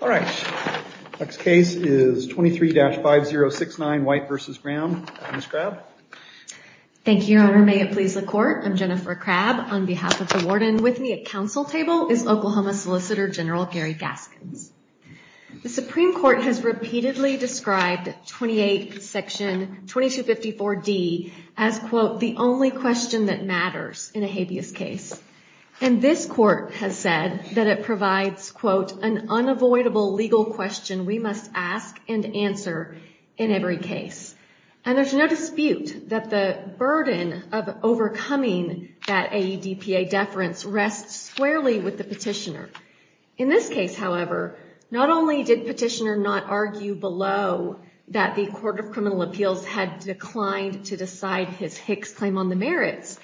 All right. Next case is 23-5069, White v. Brown. Ms. Crabb. Thank you, Your Honor. May it please the Court. I'm Jennifer Crabb. On behalf of the Warden with me at Council Table is Oklahoma Solicitor General Gary Gaskins. The Supreme Court has repeatedly described 28 Section 2254D as, quote, the only question that matters in a habeas case. And this Court has said that it provides, quote, an unavoidable legal question we must ask and answer in every case. And there's no dispute that the burden of overcoming that AEDPA deference rests squarely with the petitioner. In this case, however, not only did petitioner not argue below that the Court of Criminal Appeals had declined to decide his Hicks claim on the merits,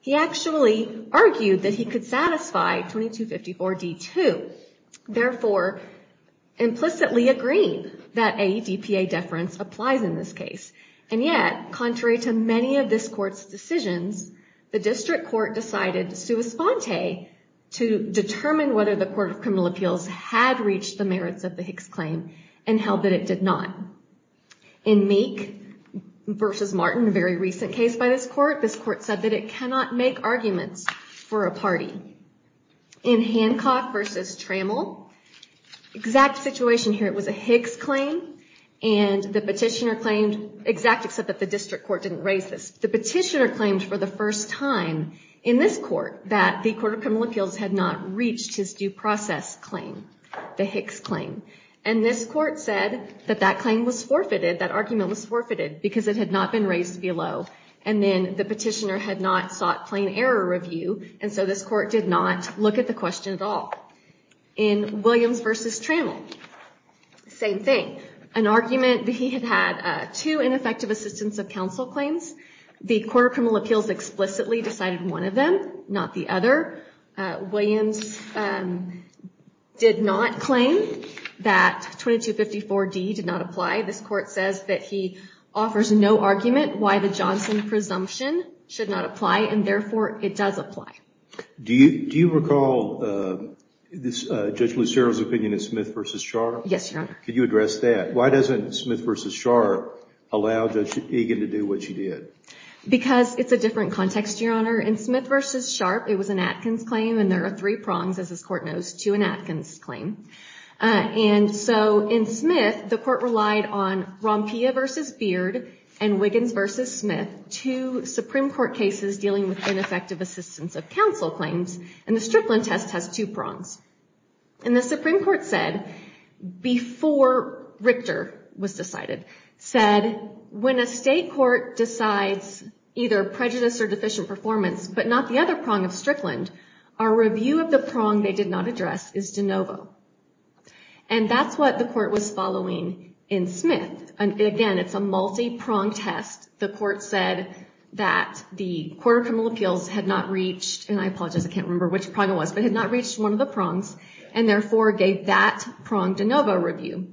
he actually argued that he could satisfy 2254D too, therefore implicitly agreeing that AEDPA deference applies in this case. And yet, contrary to many of this Court's decisions, the District Court decided sua sponte to determine whether the Court of Criminal Appeals had reached the merits of the Hicks claim and held that it did not. In Meek v. Martin, a very recent case by this Court, this Court said that it cannot make arguments for a party. In Hancock v. Trammell, exact situation here, it was a Hicks claim, and the petitioner claimed, exact except that the District Court didn't raise this, the petitioner claimed for the first time in this Court that the Court of Criminal Appeals had not reached his due process claim, the Hicks claim. And this Court said that that claim was forfeited, that argument was forfeited, because it had not been raised below. And then the petitioner had not sought plain error review, and so this Court did not look at the question at all. In Williams v. Trammell, same thing, an argument that he had had two ineffective assistance of counsel claims. The Court of Criminal Appeals explicitly decided one of them, not the other. Williams did not claim that 2254D did not apply. This Court says that he offers no argument why the Johnson presumption should not apply, and therefore it does apply. Do you recall Judge Lucero's opinion in Smith v. Sharpe? Yes, Your Honor. Could you address that? Why doesn't Smith v. Sharpe allow Judge Egan to do what she did? Because it's a different context, Your Honor. In Smith v. Sharpe, it was an Atkins claim, and there are three prongs, as this Court knows, to an Atkins claim. And so in Smith, the Court relied on Rompia v. Beard and Wiggins v. Smith, two Supreme Court cases dealing with ineffective assistance of counsel claims, and the Strickland test has two prongs. And the Supreme Court said, before Richter was decided, said, when a state court decides either prejudice or deficient performance, but not the other prong of Strickland, our review of the prong they did not address is de novo. And that's what the Court was following in Smith. And again, it's a multi-prong test. The Court said that the Court of Criminal Appeals had not reached, and I apologize, I can't remember which prong it was, but had not reached one of the prongs, and therefore gave that prong de novo review.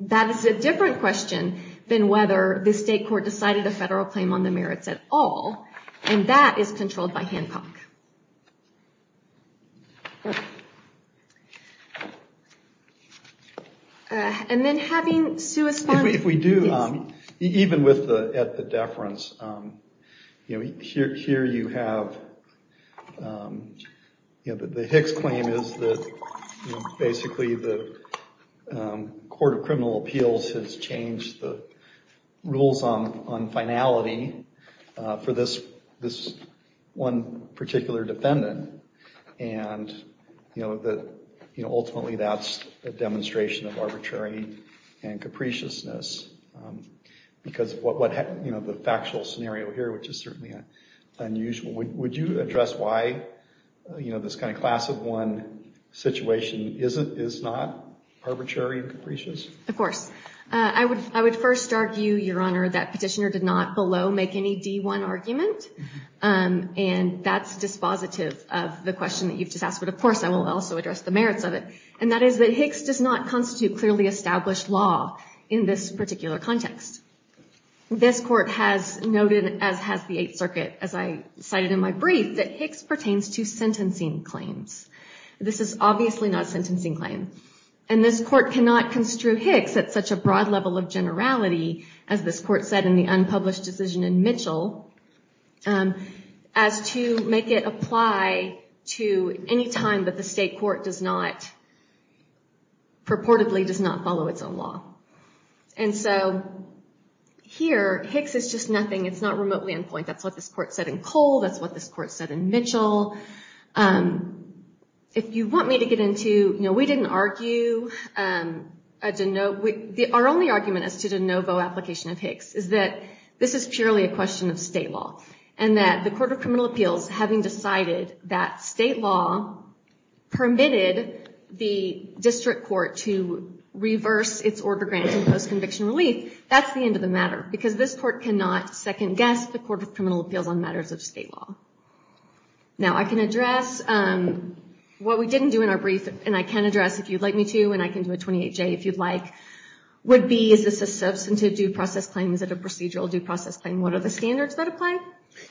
That is a different question than whether the state court decided a federal claim on the merits at all. And that is controlled by Hancock. And then having suesponsed... If we do, even at the deference, here you have the Hicks claim is that basically the Court of Criminal Appeals has changed the rules on finality for this one particular defendant. And ultimately, that's a demonstration of arbitrary and capriciousness. Because of the factual scenario here, which is certainly unusual. Would you address why this kind of class of one situation is not arbitrary and capricious? Of course. I would first argue, Your Honor, that Petitioner did not below make any D1 argument. And that's dispositive of the question that you've just asked. But of course, I will also address the merits of it. And that is that Hicks does not constitute clearly established law in this particular context. This Court has noted, as has the Eighth Circuit, as I cited in my brief, that Hicks pertains to sentencing claims. This is obviously not a sentencing claim. And this Court cannot construe Hicks at such a broad level of generality, as this Court said in the unpublished decision in Mitchell, as to make it apply to any time that the state court does not, purportedly, does not follow its own law. And so, here, Hicks is just nothing. It's not remotely on point. That's what this Court said in Cole. That's what this Court said in Mitchell. If you want me to get into, you know, we didn't argue, our only argument as to de novo application of Hicks is that this is purely a question of state law. And that the Court of Criminal Appeals, having decided that state law permitted the district court to reverse its order grant in post-conviction relief, that's the end of the matter. Because this Court cannot second-guess the Court of Criminal Appeals on matters of state law. Now, I can address what we didn't do in our brief, and I can address if you'd like me to, and I can do a 28-J if you'd like, would be, is this a substantive due process claim? Is it a procedural due process claim? What are the standards that apply?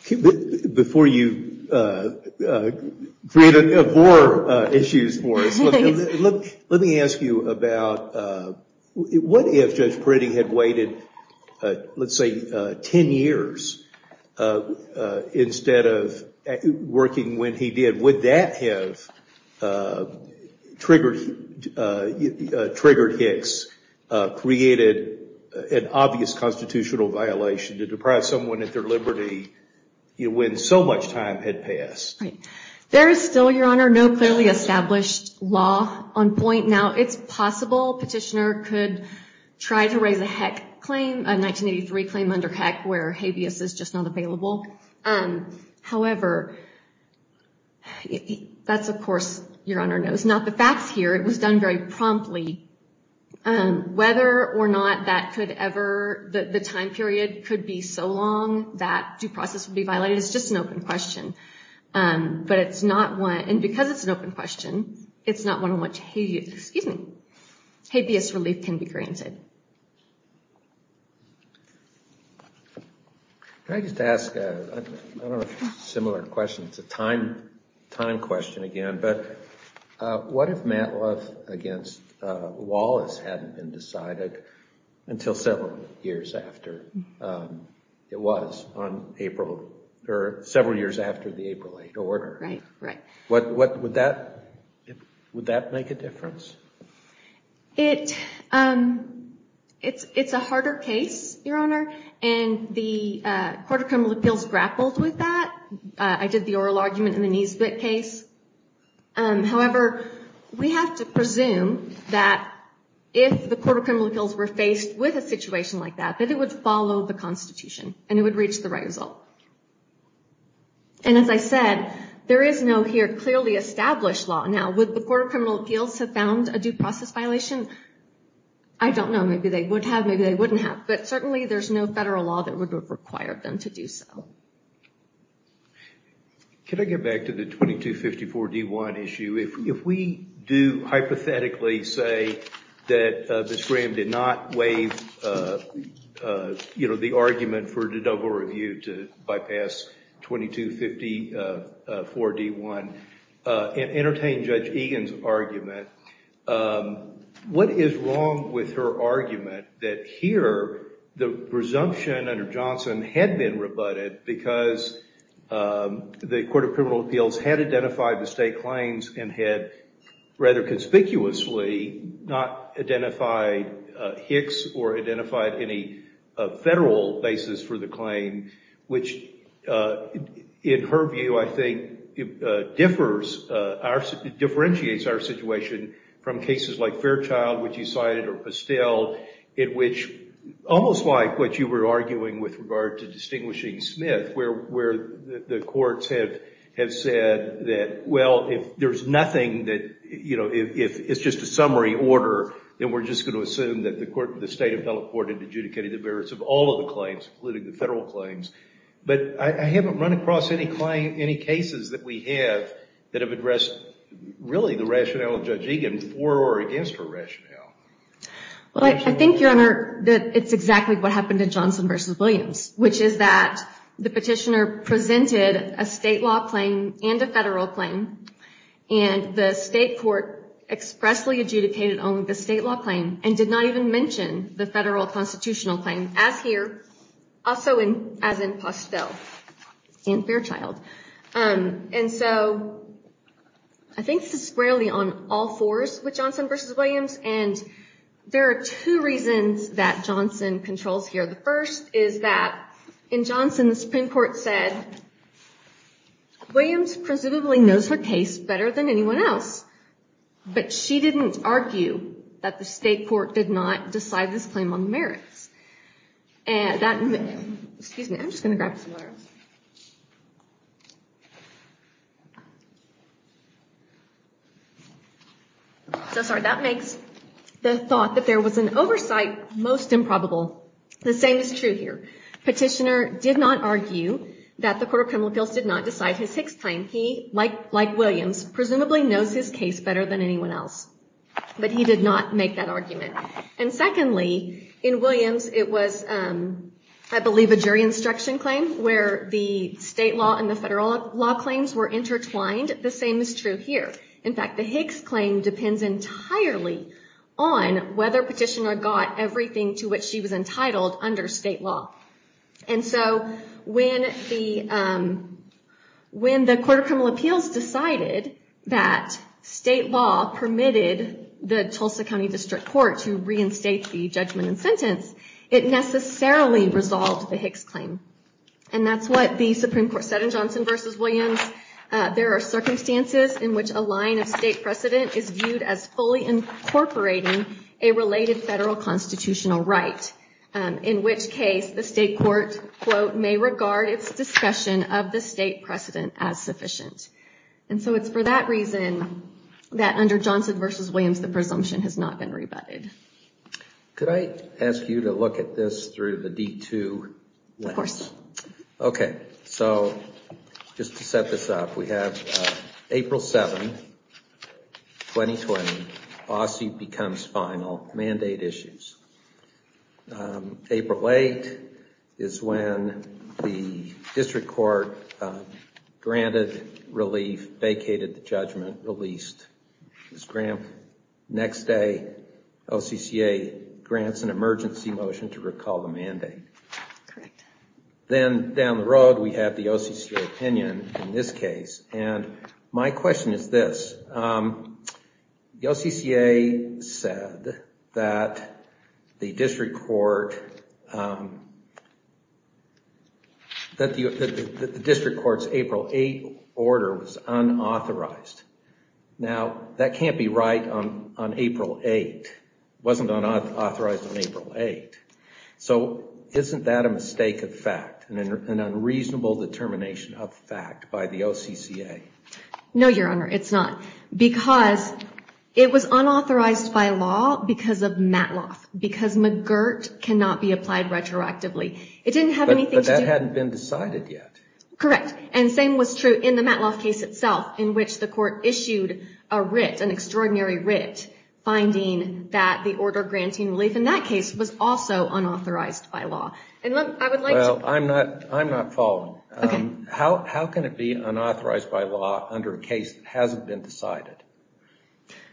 Before you create more issues for us, let me ask you about, what if Judge Priddy had waited, let's say, 10 years, instead of working when he did? Would that have triggered Hicks, created an obvious constitutional violation to deprive someone of their liberty, when so much time had passed? Right. There is still, Your Honor, no clearly established law on point. Now, it's possible Petitioner could try to raise a HEC claim, a 1983 claim under HEC, where habeas is just not available. However, that's, of course, Your Honor, not the facts here. It was done very promptly. Whether or not that could ever, the time period could be so long that due process would be violated is just an open question. But it's not one, and because it's an open question, it's not one on which, excuse me, habeas relief can be granted. Can I just ask, I don't know if it's a similar question, it's a time question again, but what if Matloff against Wallace hadn't been decided until several years after it was on April, or several years after the April 8 order? Right, right. Would that make a difference? It's a harder case, Your Honor, and the Court of Criminal Appeals grappled with that. I did the oral argument in the Niesbitt case. However, we have to presume that if the Court of Criminal Appeals were faced with a situation like that, that it would follow the Constitution, and it would reach the right result. And as I said, there is no here clearly established law. Now, would the Court of Criminal Appeals have found a due process violation? I don't know. Maybe they would have, maybe they wouldn't have. But certainly there's no federal law that would require them to do so. Can I get back to the 2254-D1 issue? If we do hypothetically say that Ms. Graham did not waive the argument for the double review to bypass 2254-D1 and entertain Judge Egan's argument, what is wrong with her argument that here the presumption under Johnson had been rebutted because the Court of Criminal Appeals had identified the state claims and had rather conspicuously not identified Hicks or identified any federal basis for the claim, which in her view, I think, differentiates our situation from cases like Fairchild, which you cited, or Pestel, in which, almost like what you were arguing with regard to distinguishing Smith, where the courts have said that, well, if there's nothing that, you know, if it's just a summary order, then we're just going to assume that the state of Delaware court had adjudicated the merits of all of the claims, including the federal claims. But I haven't run across any cases that we have that have addressed, really, the rationale of Judge Egan for or against her rationale. Well, I think, Your Honor, that it's exactly what happened in Johnson v. Williams, which is that the petitioner presented a state law claim and a federal claim, and the state court expressly adjudicated only the state law claim, and did not even mention the federal constitutional claim, as here, also as in Pestel and Fairchild. And so I think this is squarely on all fours with Johnson v. Williams, and there are two reasons that Johnson controls here. The first is that, in Johnson, the Supreme Court said, Williams presumably knows her case better than anyone else, but she didn't argue that the state court did not decide this claim on the merits. And that, excuse me, I'm just going to grab some letters. So sorry, that makes the thought that there was an oversight most improbable. The same is true here. Petitioner did not argue that the Court of Criminal Appeals did not decide his sixth claim. He, like Williams, presumably knows his case better than anyone else, but he did not make that argument. And secondly, in Williams, it was, I believe, a jury instruction claim, where the state law and the federal law claims were intertwined. The same is true here. In fact, the Hicks claim depends entirely on whether petitioner got everything to which she was entitled under state law. And so when the Court of Criminal Appeals decided that state law permitted the Tulsa County District Court to reinstate the judgment and sentence, it necessarily resolved the Hicks claim. And that's what the Supreme Court said in Johnson versus Williams. There are circumstances in which a line of state precedent is viewed as fully incorporating a related federal constitutional right. In which case, the state court, quote, may regard its discussion of the state precedent as sufficient. And so it's for that reason that under Johnson versus Williams, the presumption has not been rebutted. Could I ask you to look at this through the D2 lens? Of course. Okay. So just to set this up, we have April 7, 2020, Bossie becomes final, mandate issues. April 8 is when the district court granted relief, vacated the judgment, released this grant. Next day, OCCA grants an emergency motion to recall the mandate. Then down the road, we have the OCCA opinion in this case. And my question is this, the OCCA said that the district court's April 8 order was unauthorized. Now, that can't be right on April 8, wasn't authorized on April 8. So isn't that a mistake of fact, an unreasonable determination of fact by the OCCA? No, Your Honor, it's not. Because it was unauthorized by law because of Matloff. Because McGirt cannot be applied retroactively. It didn't have anything to do- But that hadn't been decided yet. Correct. And same was true in the Matloff case itself, in which the court issued a writ, an extraordinary writ, finding that the order granting relief in that case was also unauthorized by law. And I would like to- Well, I'm not following. Okay. How can it be unauthorized by law under a case that hasn't been decided?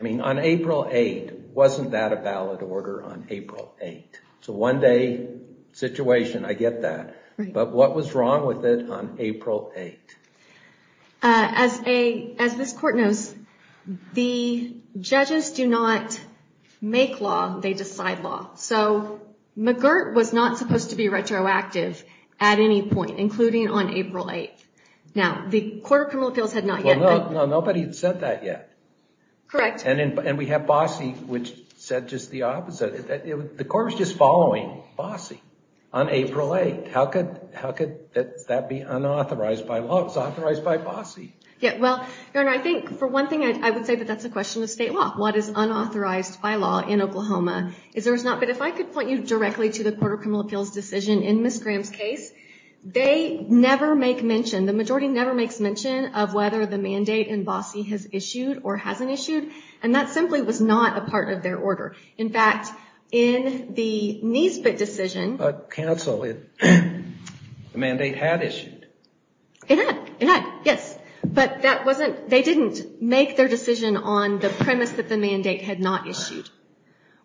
I mean, on April 8, wasn't that a valid order on April 8? It's a one-day situation, I get that. But what was wrong with it on April 8? As this court knows, the judges do not make law, they decide law. So McGirt was not supposed to be retroactive at any point, including on April 8. Now, the Court of Criminal Appeals had not yet- Well, no, nobody had said that yet. Correct. And we have Bossie, which said just the opposite. The court was just following Bossie on April 8. How could that be unauthorized by law? It was authorized by Bossie. Yeah, well, Your Honor, I think, for one thing, I would say that that's a question of state law. What is unauthorized by law in Oklahoma? But if I could point you directly to the Court of Criminal Appeals' decision in Ms. Graham's case, they never make mention, the majority never makes mention of whether the mandate in Bossie has issued or hasn't issued. And that simply was not a part of their order. In fact, in the Niesbitt decision- But counsel, the mandate had issued. It had, it had, yes. But that wasn't, they didn't make their decision on the premise that the mandate had not issued,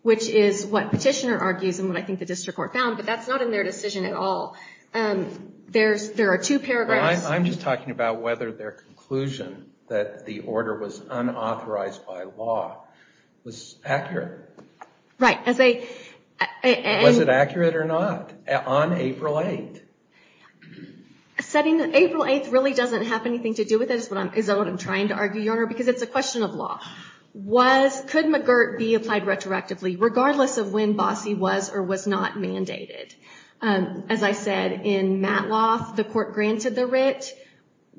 which is what Petitioner argues and what I think the district court found. But that's not in their decision at all. There's, there are two paragraphs- I'm just talking about whether their conclusion that the order was unauthorized by law was accurate. Right, as they- Was it accurate or not on April 8? Setting April 8 really doesn't have anything to do with it is what I'm, is what I'm trying to argue, Your Honor, because it's a question of law. Was, could McGirt be applied retroactively regardless of when Bossie was or was not mandated? As I said, in Matloth, the court granted the writ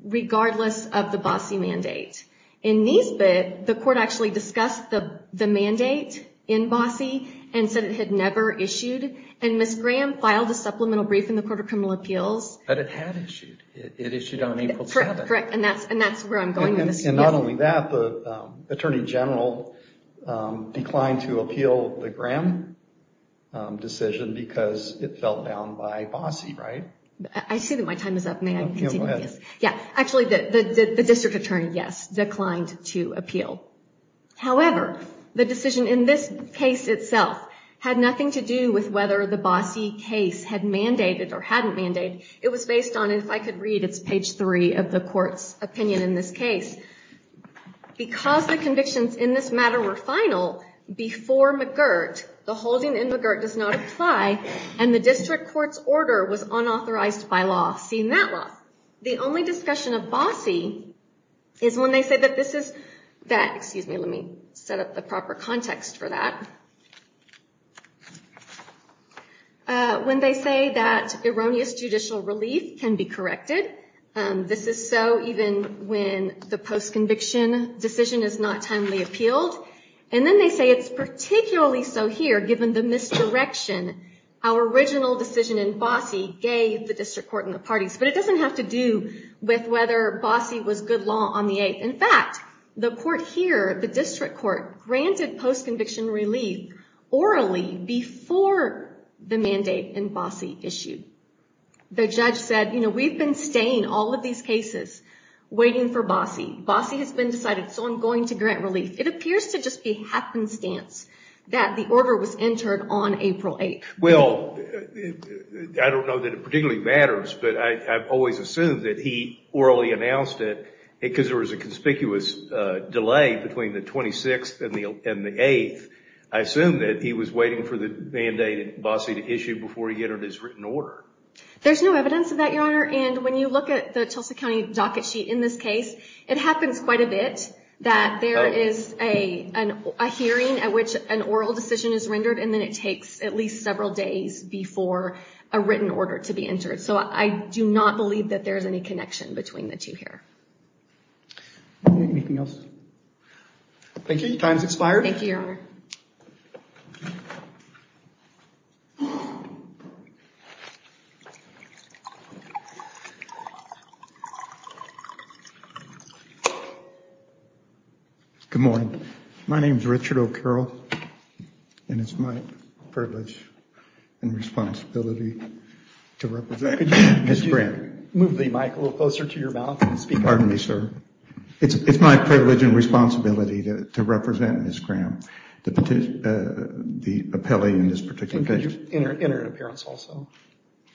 regardless of the Bossie mandate. In Niesbitt, the court actually discussed the mandate in Bossie and said it had never issued. And Ms. Graham filed a supplemental brief in the Court of Criminal Appeals- But it had issued. It issued on April 7th. Correct, and that's, and that's where I'm going with this. And not only that, the attorney general declined to appeal the Graham decision because it fell down by Bossie, right? I see that my time is up. May I continue? Yeah, actually, the district attorney, yes, declined to appeal. However, the decision in this case itself had nothing to do with whether the Bossie case had mandated or hadn't mandated. It was based on, if I could read, it's page three of the court's opinion in this case. Because the convictions in this matter were final before McGirt, the holding in McGirt does not apply, and the district court's order was unauthorized by law, seeing that law. The only discussion of Bossie is when they say that this is, that, excuse me, let me set up the proper context for that. When they say that erroneous judicial relief can be corrected. This is so even when the post-conviction decision is not timely appealed. And then they say it's particularly so here, given the misdirection our original decision in Bossie gave the district court and the parties. But it doesn't have to do with whether Bossie was good law on the eighth. In fact, the court here, the district court, granted post-conviction relief orally before the mandate in Bossie issued. The judge said, you know, we've been staying all of these cases waiting for Bossie. Bossie has been decided, so I'm going to grant relief. It appears to just be happenstance that the order was entered on April 8th. Well, I don't know that it particularly matters, but I've always assumed that he orally announced it because there was a conspicuous delay between the 26th and the 8th. I assume that he was waiting for the mandate in Bossie to issue before he entered his written order. There's no evidence of that, Your Honor. And when you look at the Tulsa County docket sheet in this case, it happens quite a bit that there is a hearing at which an oral decision is rendered. And then it takes at least several days before a written order to be entered. So I do not believe that there is any connection between the two here. Anything else? Thank you. Time's expired. Thank you, Your Honor. Good morning. My name's Richard O'Carroll, and it's my privilege and responsibility to represent Ms. Graham. Could you move the mic a little closer to your mouth and speak? Pardon me, sir. It's my privilege and responsibility to represent Ms. Graham, the appellee in this particular case. And could you enter an appearance also?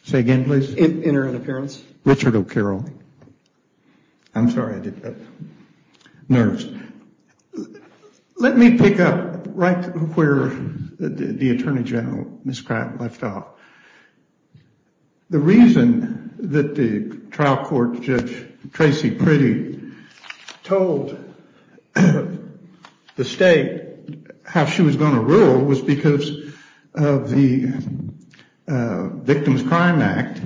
Say again, please? Enter an appearance. Richard O'Carroll. I'm sorry. I did that. Nerves. Let me pick up right where the Attorney General, Ms. Graham, left off. The reason that the trial court judge, Tracy Priddy, told the state how she was going to rule was because of the Victims Crime Act,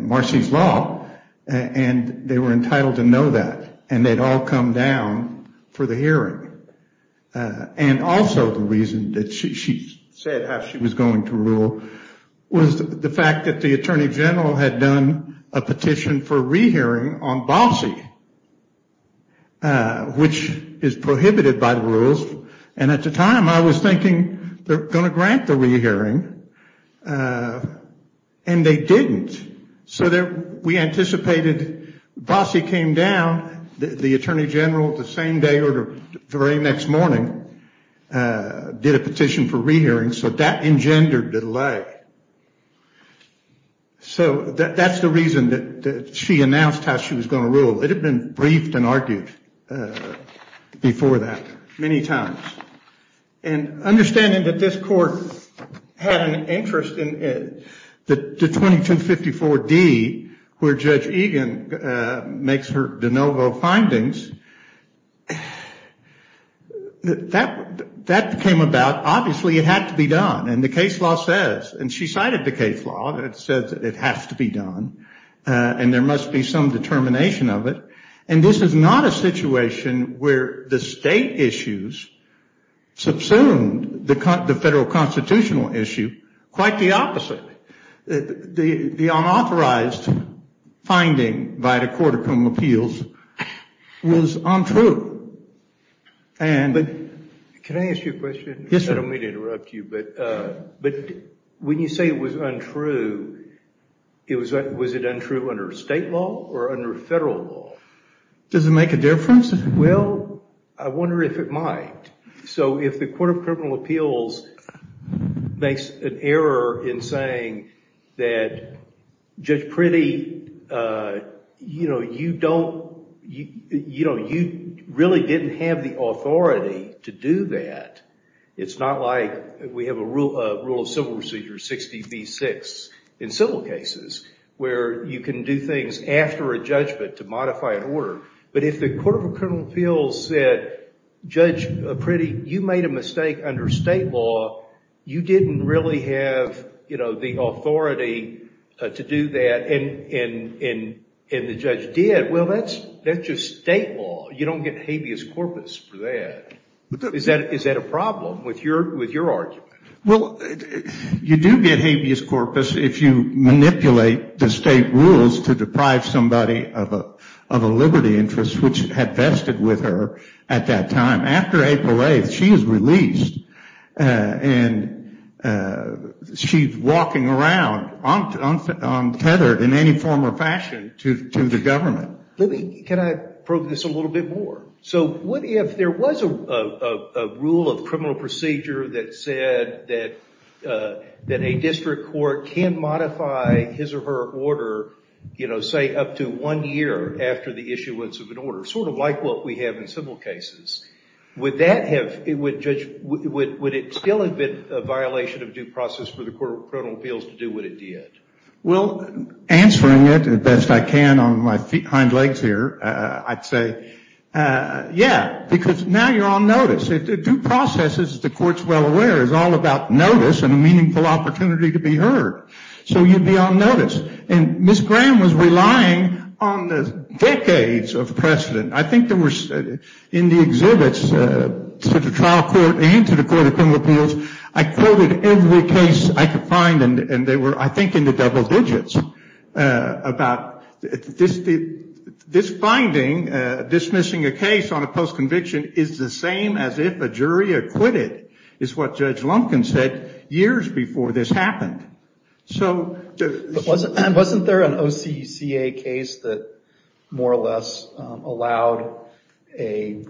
Marcy's Law. And they were entitled to know that. And they'd all come down for the hearing. And also, the reason that she said how she was going to rule was the fact that the Attorney General had done a petition for a re-hearing on Balcy, which is prohibited by the rules. And at the time, I was thinking they're going to grant the re-hearing, and they didn't. So we anticipated Balcy came down. The Attorney General, the same day or the very next morning, did a petition for re-hearing. So that engendered the delay. So that's the reason that she announced how she was going to rule. It had been briefed and argued before that many times. And understanding that this court had an interest in the 2254D, where Judge Egan makes her de novo findings, that came about. Obviously, it had to be done. And the case law says, and she cited the case law, that it says it has to be done. And there must be some determination of it. And this is not a situation where the state issues subsumed the federal constitutional issue. Quite the opposite. The unauthorized finding by the Court of Criminal Appeals was untrue. But can I ask you a question? Yes, sir. I don't mean to interrupt you. But when you say it was untrue, was it untrue under state law or under federal law? Does it make a difference? Well, I wonder if it might. So if the Court of Criminal Appeals makes an error in saying that Judge Priddy, you really didn't have the authority to do that. It's not like we have a rule of civil procedure 60B6 in civil cases, where you can do things after a judgment to modify an order. But if the Court of Criminal Appeals said, Judge Priddy, you made a mistake under state law. You didn't really have the authority to do that. And the judge did. Well, that's just state law. You don't get habeas corpus for that. Is that a problem with your argument? Well, you do get habeas corpus if you manipulate the state rules to deprive somebody of a liberty interest, which had vested with her at that time. After April 8th, she is released. And she's walking around untethered in any form or fashion to the government. Can I probe this a little bit more? So what if there was a rule of criminal procedure that said that a district court can modify his or her order, say, up to one year after the issuance of an order? Sort of like what we have in civil cases. Would it still have been a violation of due process for the Court of Criminal Appeals to do what it did? Well, answering it as best I can on my hind legs here, I'd say, yeah, because now you're on notice. Due process, as the Court's well aware, is all about notice and a meaningful opportunity to be heard. So you'd be on notice. And Ms. Graham was relying on the decades of precedent. I think there were, in the exhibits to the trial court and to the Court of Criminal Appeals, I quoted every case I could find. And they were, I think, in the double digits about this finding, dismissing a case on a post-conviction is the same as if a jury acquitted, is what Judge Lumpkin said years before this happened. So wasn't there an OCCA case that more or less allowed a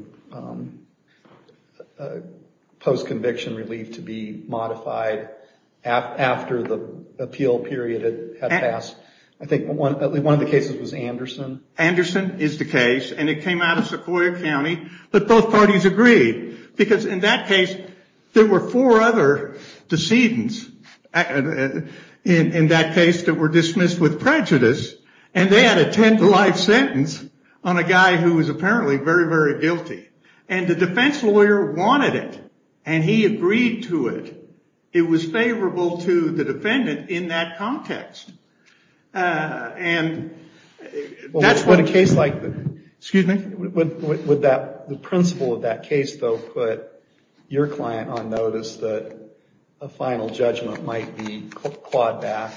post-conviction relief to be modified after the appeal period had passed? I think one of the cases was Anderson. Anderson is the case. And it came out of Sequoia County. But both parties agreed. Because in that case, there were four other decedents in that case that were dismissed with prejudice. And they had a 10-to-life sentence on a guy who was apparently very, very guilty. And the defense lawyer wanted it. And he agreed to it. It was favorable to the defendant in that context. And that's what a case like the, excuse me, would that, the principle of that case, though, put your client on notice that a final judgment might be clawed back?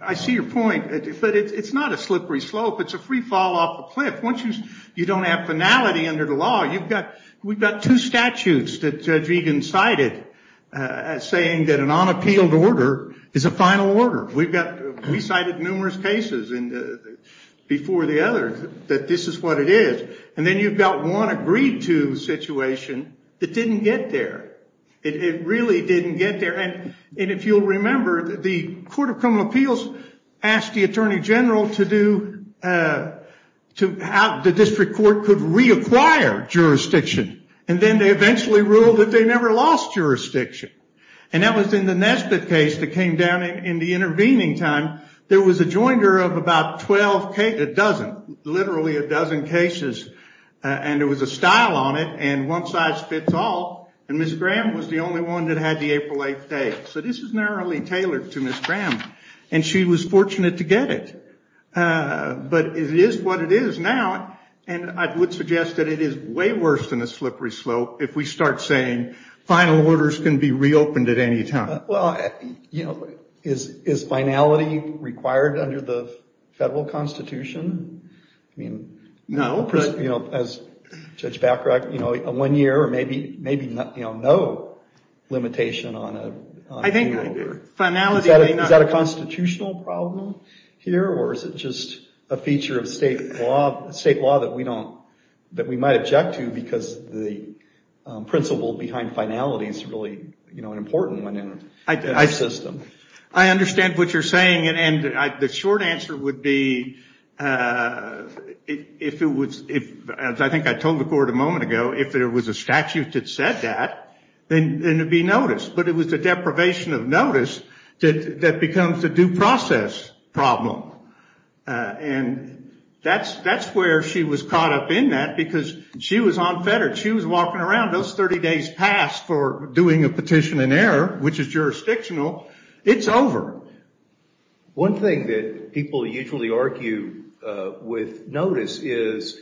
I see your point. But it's not a slippery slope. It's a free fall off a cliff. Once you don't have finality under the law, you've got, we've got two statutes that Judge Egan cited saying that an unappealed order is a final order. We cited numerous cases before the others that this is what it is. And then you've got one agreed to situation that didn't get there. It really didn't get there. And if you'll remember, the Court of Criminal Appeals asked the attorney general to do, to have the district court could reacquire jurisdiction. And then they eventually ruled that they never lost jurisdiction. And that was in the Nesbitt case that came down in the intervening time. There was a joinder of about 12 cases, a dozen, literally a dozen cases. And there was a style on it. And one size fits all. And Ms. Graham was the only one that had the April 8th date. So this is narrowly tailored to Ms. Graham. And she was fortunate to get it. But it is what it is now. And I would suggest that it is way worse than a slippery slope if we start saying final orders can be reopened at any time. Well, you know, is finality required under the federal constitution? I mean, you know, as Judge Bacharach, you know, a one year or maybe, maybe not, you know, no limitation on a, on a new order. I think finality may not. Is that a constitutional problem here? Or is it just a feature of state law, state law that we don't, that we might object to? Because the principle behind finality is really, you know, an important one in our system. I understand what you're saying. And the short answer would be, if it was, as I think I told the court a moment ago, if there was a statute that said that, then it would be noticed. But it was the deprivation of notice that becomes the due process problem. And that's, that's where she was caught up in that because she was unfettered. She was walking around. Those 30 days passed for doing a petition in error, which is jurisdictional. It's over. One thing that people usually argue with notice is,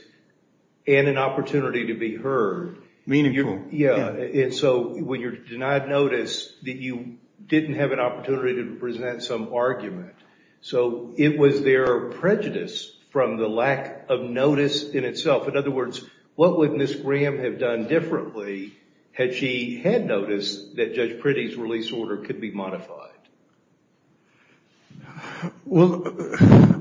and an opportunity to be heard. Meaningful. Yeah. And so when you're denied notice that you didn't have an opportunity to present some argument. So it was their prejudice from the lack of notice in itself. In other words, what would Ms. Graham have done differently had she had noticed that Judge Priddy's release order could be modified? Well,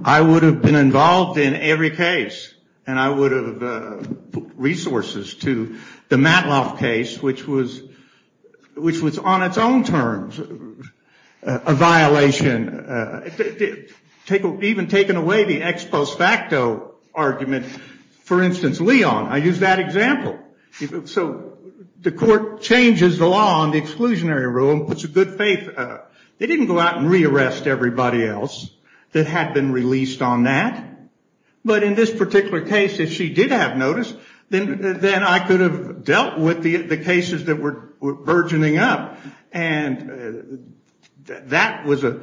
I would have been involved in every case. And I would have put resources to the Matloff case, which was on its own terms a violation. Even taking away the ex post facto argument. For instance, Leon, I use that example. So the court changes the law on the exclusionary rule and puts a good faith. They didn't go out and re-arrest everybody else that had been released on that. But in this particular case, if she did have notice, then I could have dealt with the cases that were burgeoning up. And that was a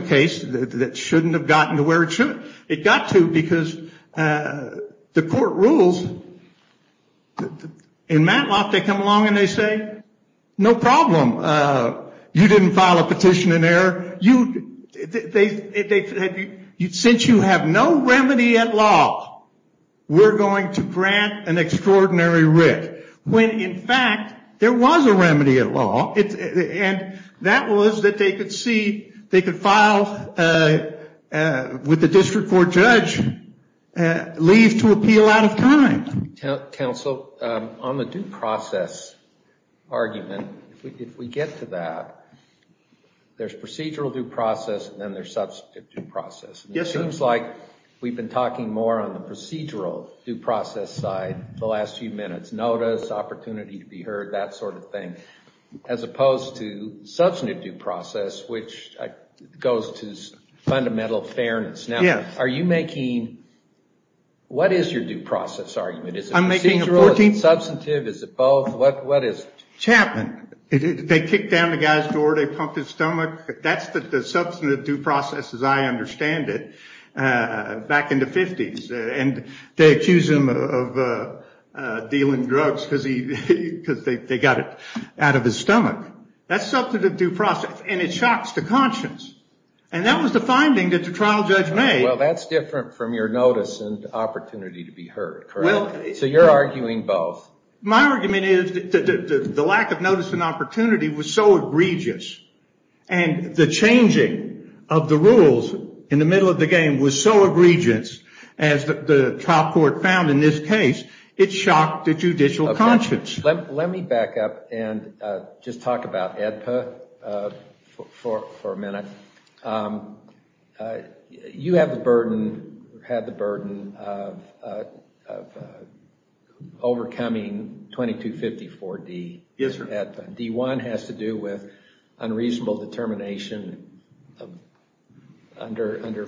case that shouldn't have gotten to where it should. It got to because the court rules. In Matloff, they come along and they say, no problem. You didn't file a petition in error. Since you have no remedy at law, we're going to grant an extraordinary writ. When, in fact, there was a remedy at law. And that was that they could file with the district court judge leave to appeal out of time. Counsel, on the due process argument, if we get to that, there's procedural due process and then there's substantive due process. It seems like we've been talking more on the procedural due process side the last few minutes. Notice, opportunity to be heard, that sort of thing, as opposed to substantive due process, which goes to fundamental fairness. Now, what is your due process argument? Is it procedural, is it substantive, is it both, what is it? Chapman, they kicked down the guy's door, they pumped his stomach. That's the substantive due process as I understand it, back in the 50s. And they accuse him of dealing drugs because they got it out of his stomach. That's substantive due process. And it shocks the conscience. And that was the finding that the trial judge made. Well, that's different from your notice and opportunity to be heard, correct? So you're arguing both. My argument is that the lack of notice and opportunity was so egregious. And the changing of the rules in the middle of the game was so egregious, as the trial court found in this case, it shocked the judicial conscience. Let me back up and just talk about AEDPA for a minute. You have the burden, or had the burden, of overcoming 2254-D. Yes, sir. D-1 has to do with unreasonable determination under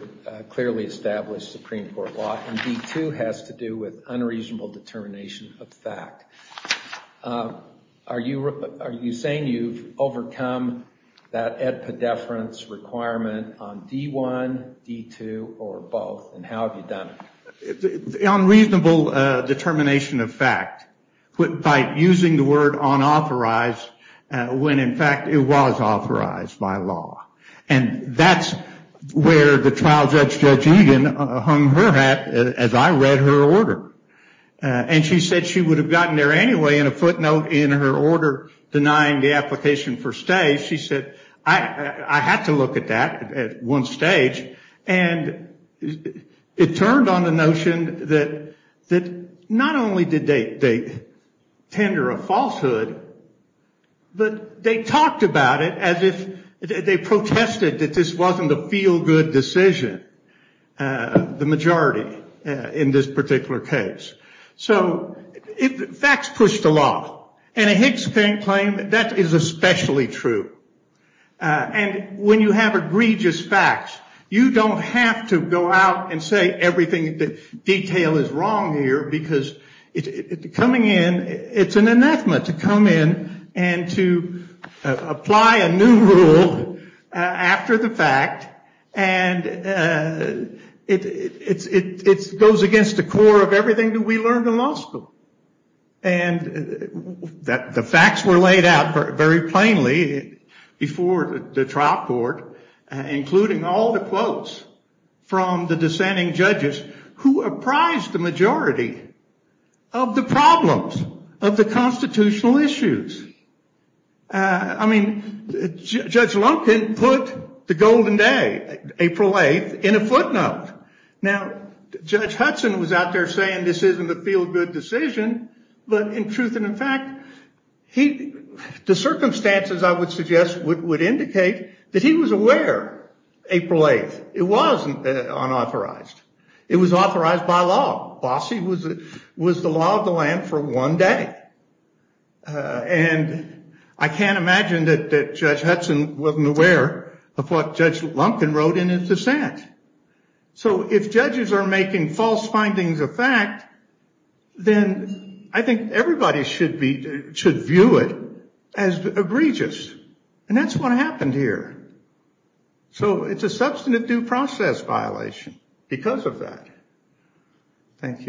clearly established Supreme Court law. And D-2 has to do with unreasonable determination of fact. Are you saying you've overcome that AEDPA deference requirement on D-1, D-2, or both? And how have you done it? Unreasonable determination of fact, by using the word unauthorized, when in fact it was authorized by law. And that's where the trial judge, Judge Egan, hung her hat as I read her order. And she said she would have gotten there anyway in a footnote in her order denying the application for stay. She said, I had to look at that at one stage. And it turned on the notion that not only did they tender a falsehood, but they talked about it as if they protested that this wasn't a feel-good decision, the majority, in this particular case. So facts pushed the law. And a Higgs claim, that is especially true. And when you have egregious facts, you don't have to go out and say everything in detail is wrong here. Because coming in, it's an anathema to come in and to apply a new rule after the fact. And it goes against the core of everything that we learned in law school. And the facts were laid out very plainly before the trial court, including all the quotes from the dissenting judges who apprised the majority of the problems of the constitutional issues. I mean, Judge Lumpkin put the golden day, April 8, in a footnote. Now, Judge Hudson was out there saying this isn't a feel-good decision. But in truth and in fact, the circumstances, I would suggest, would indicate that he was aware April 8. It wasn't unauthorized. It was authorized by law. Bossie was the law of the land for one day. And I can't imagine that Judge Hudson wasn't aware of what Judge Lumpkin wrote in his dissent. So if judges are making false findings of fact, then I think everybody should view it as egregious. And that's what happened here. So it's a substantive due process violation because of that. Thank you.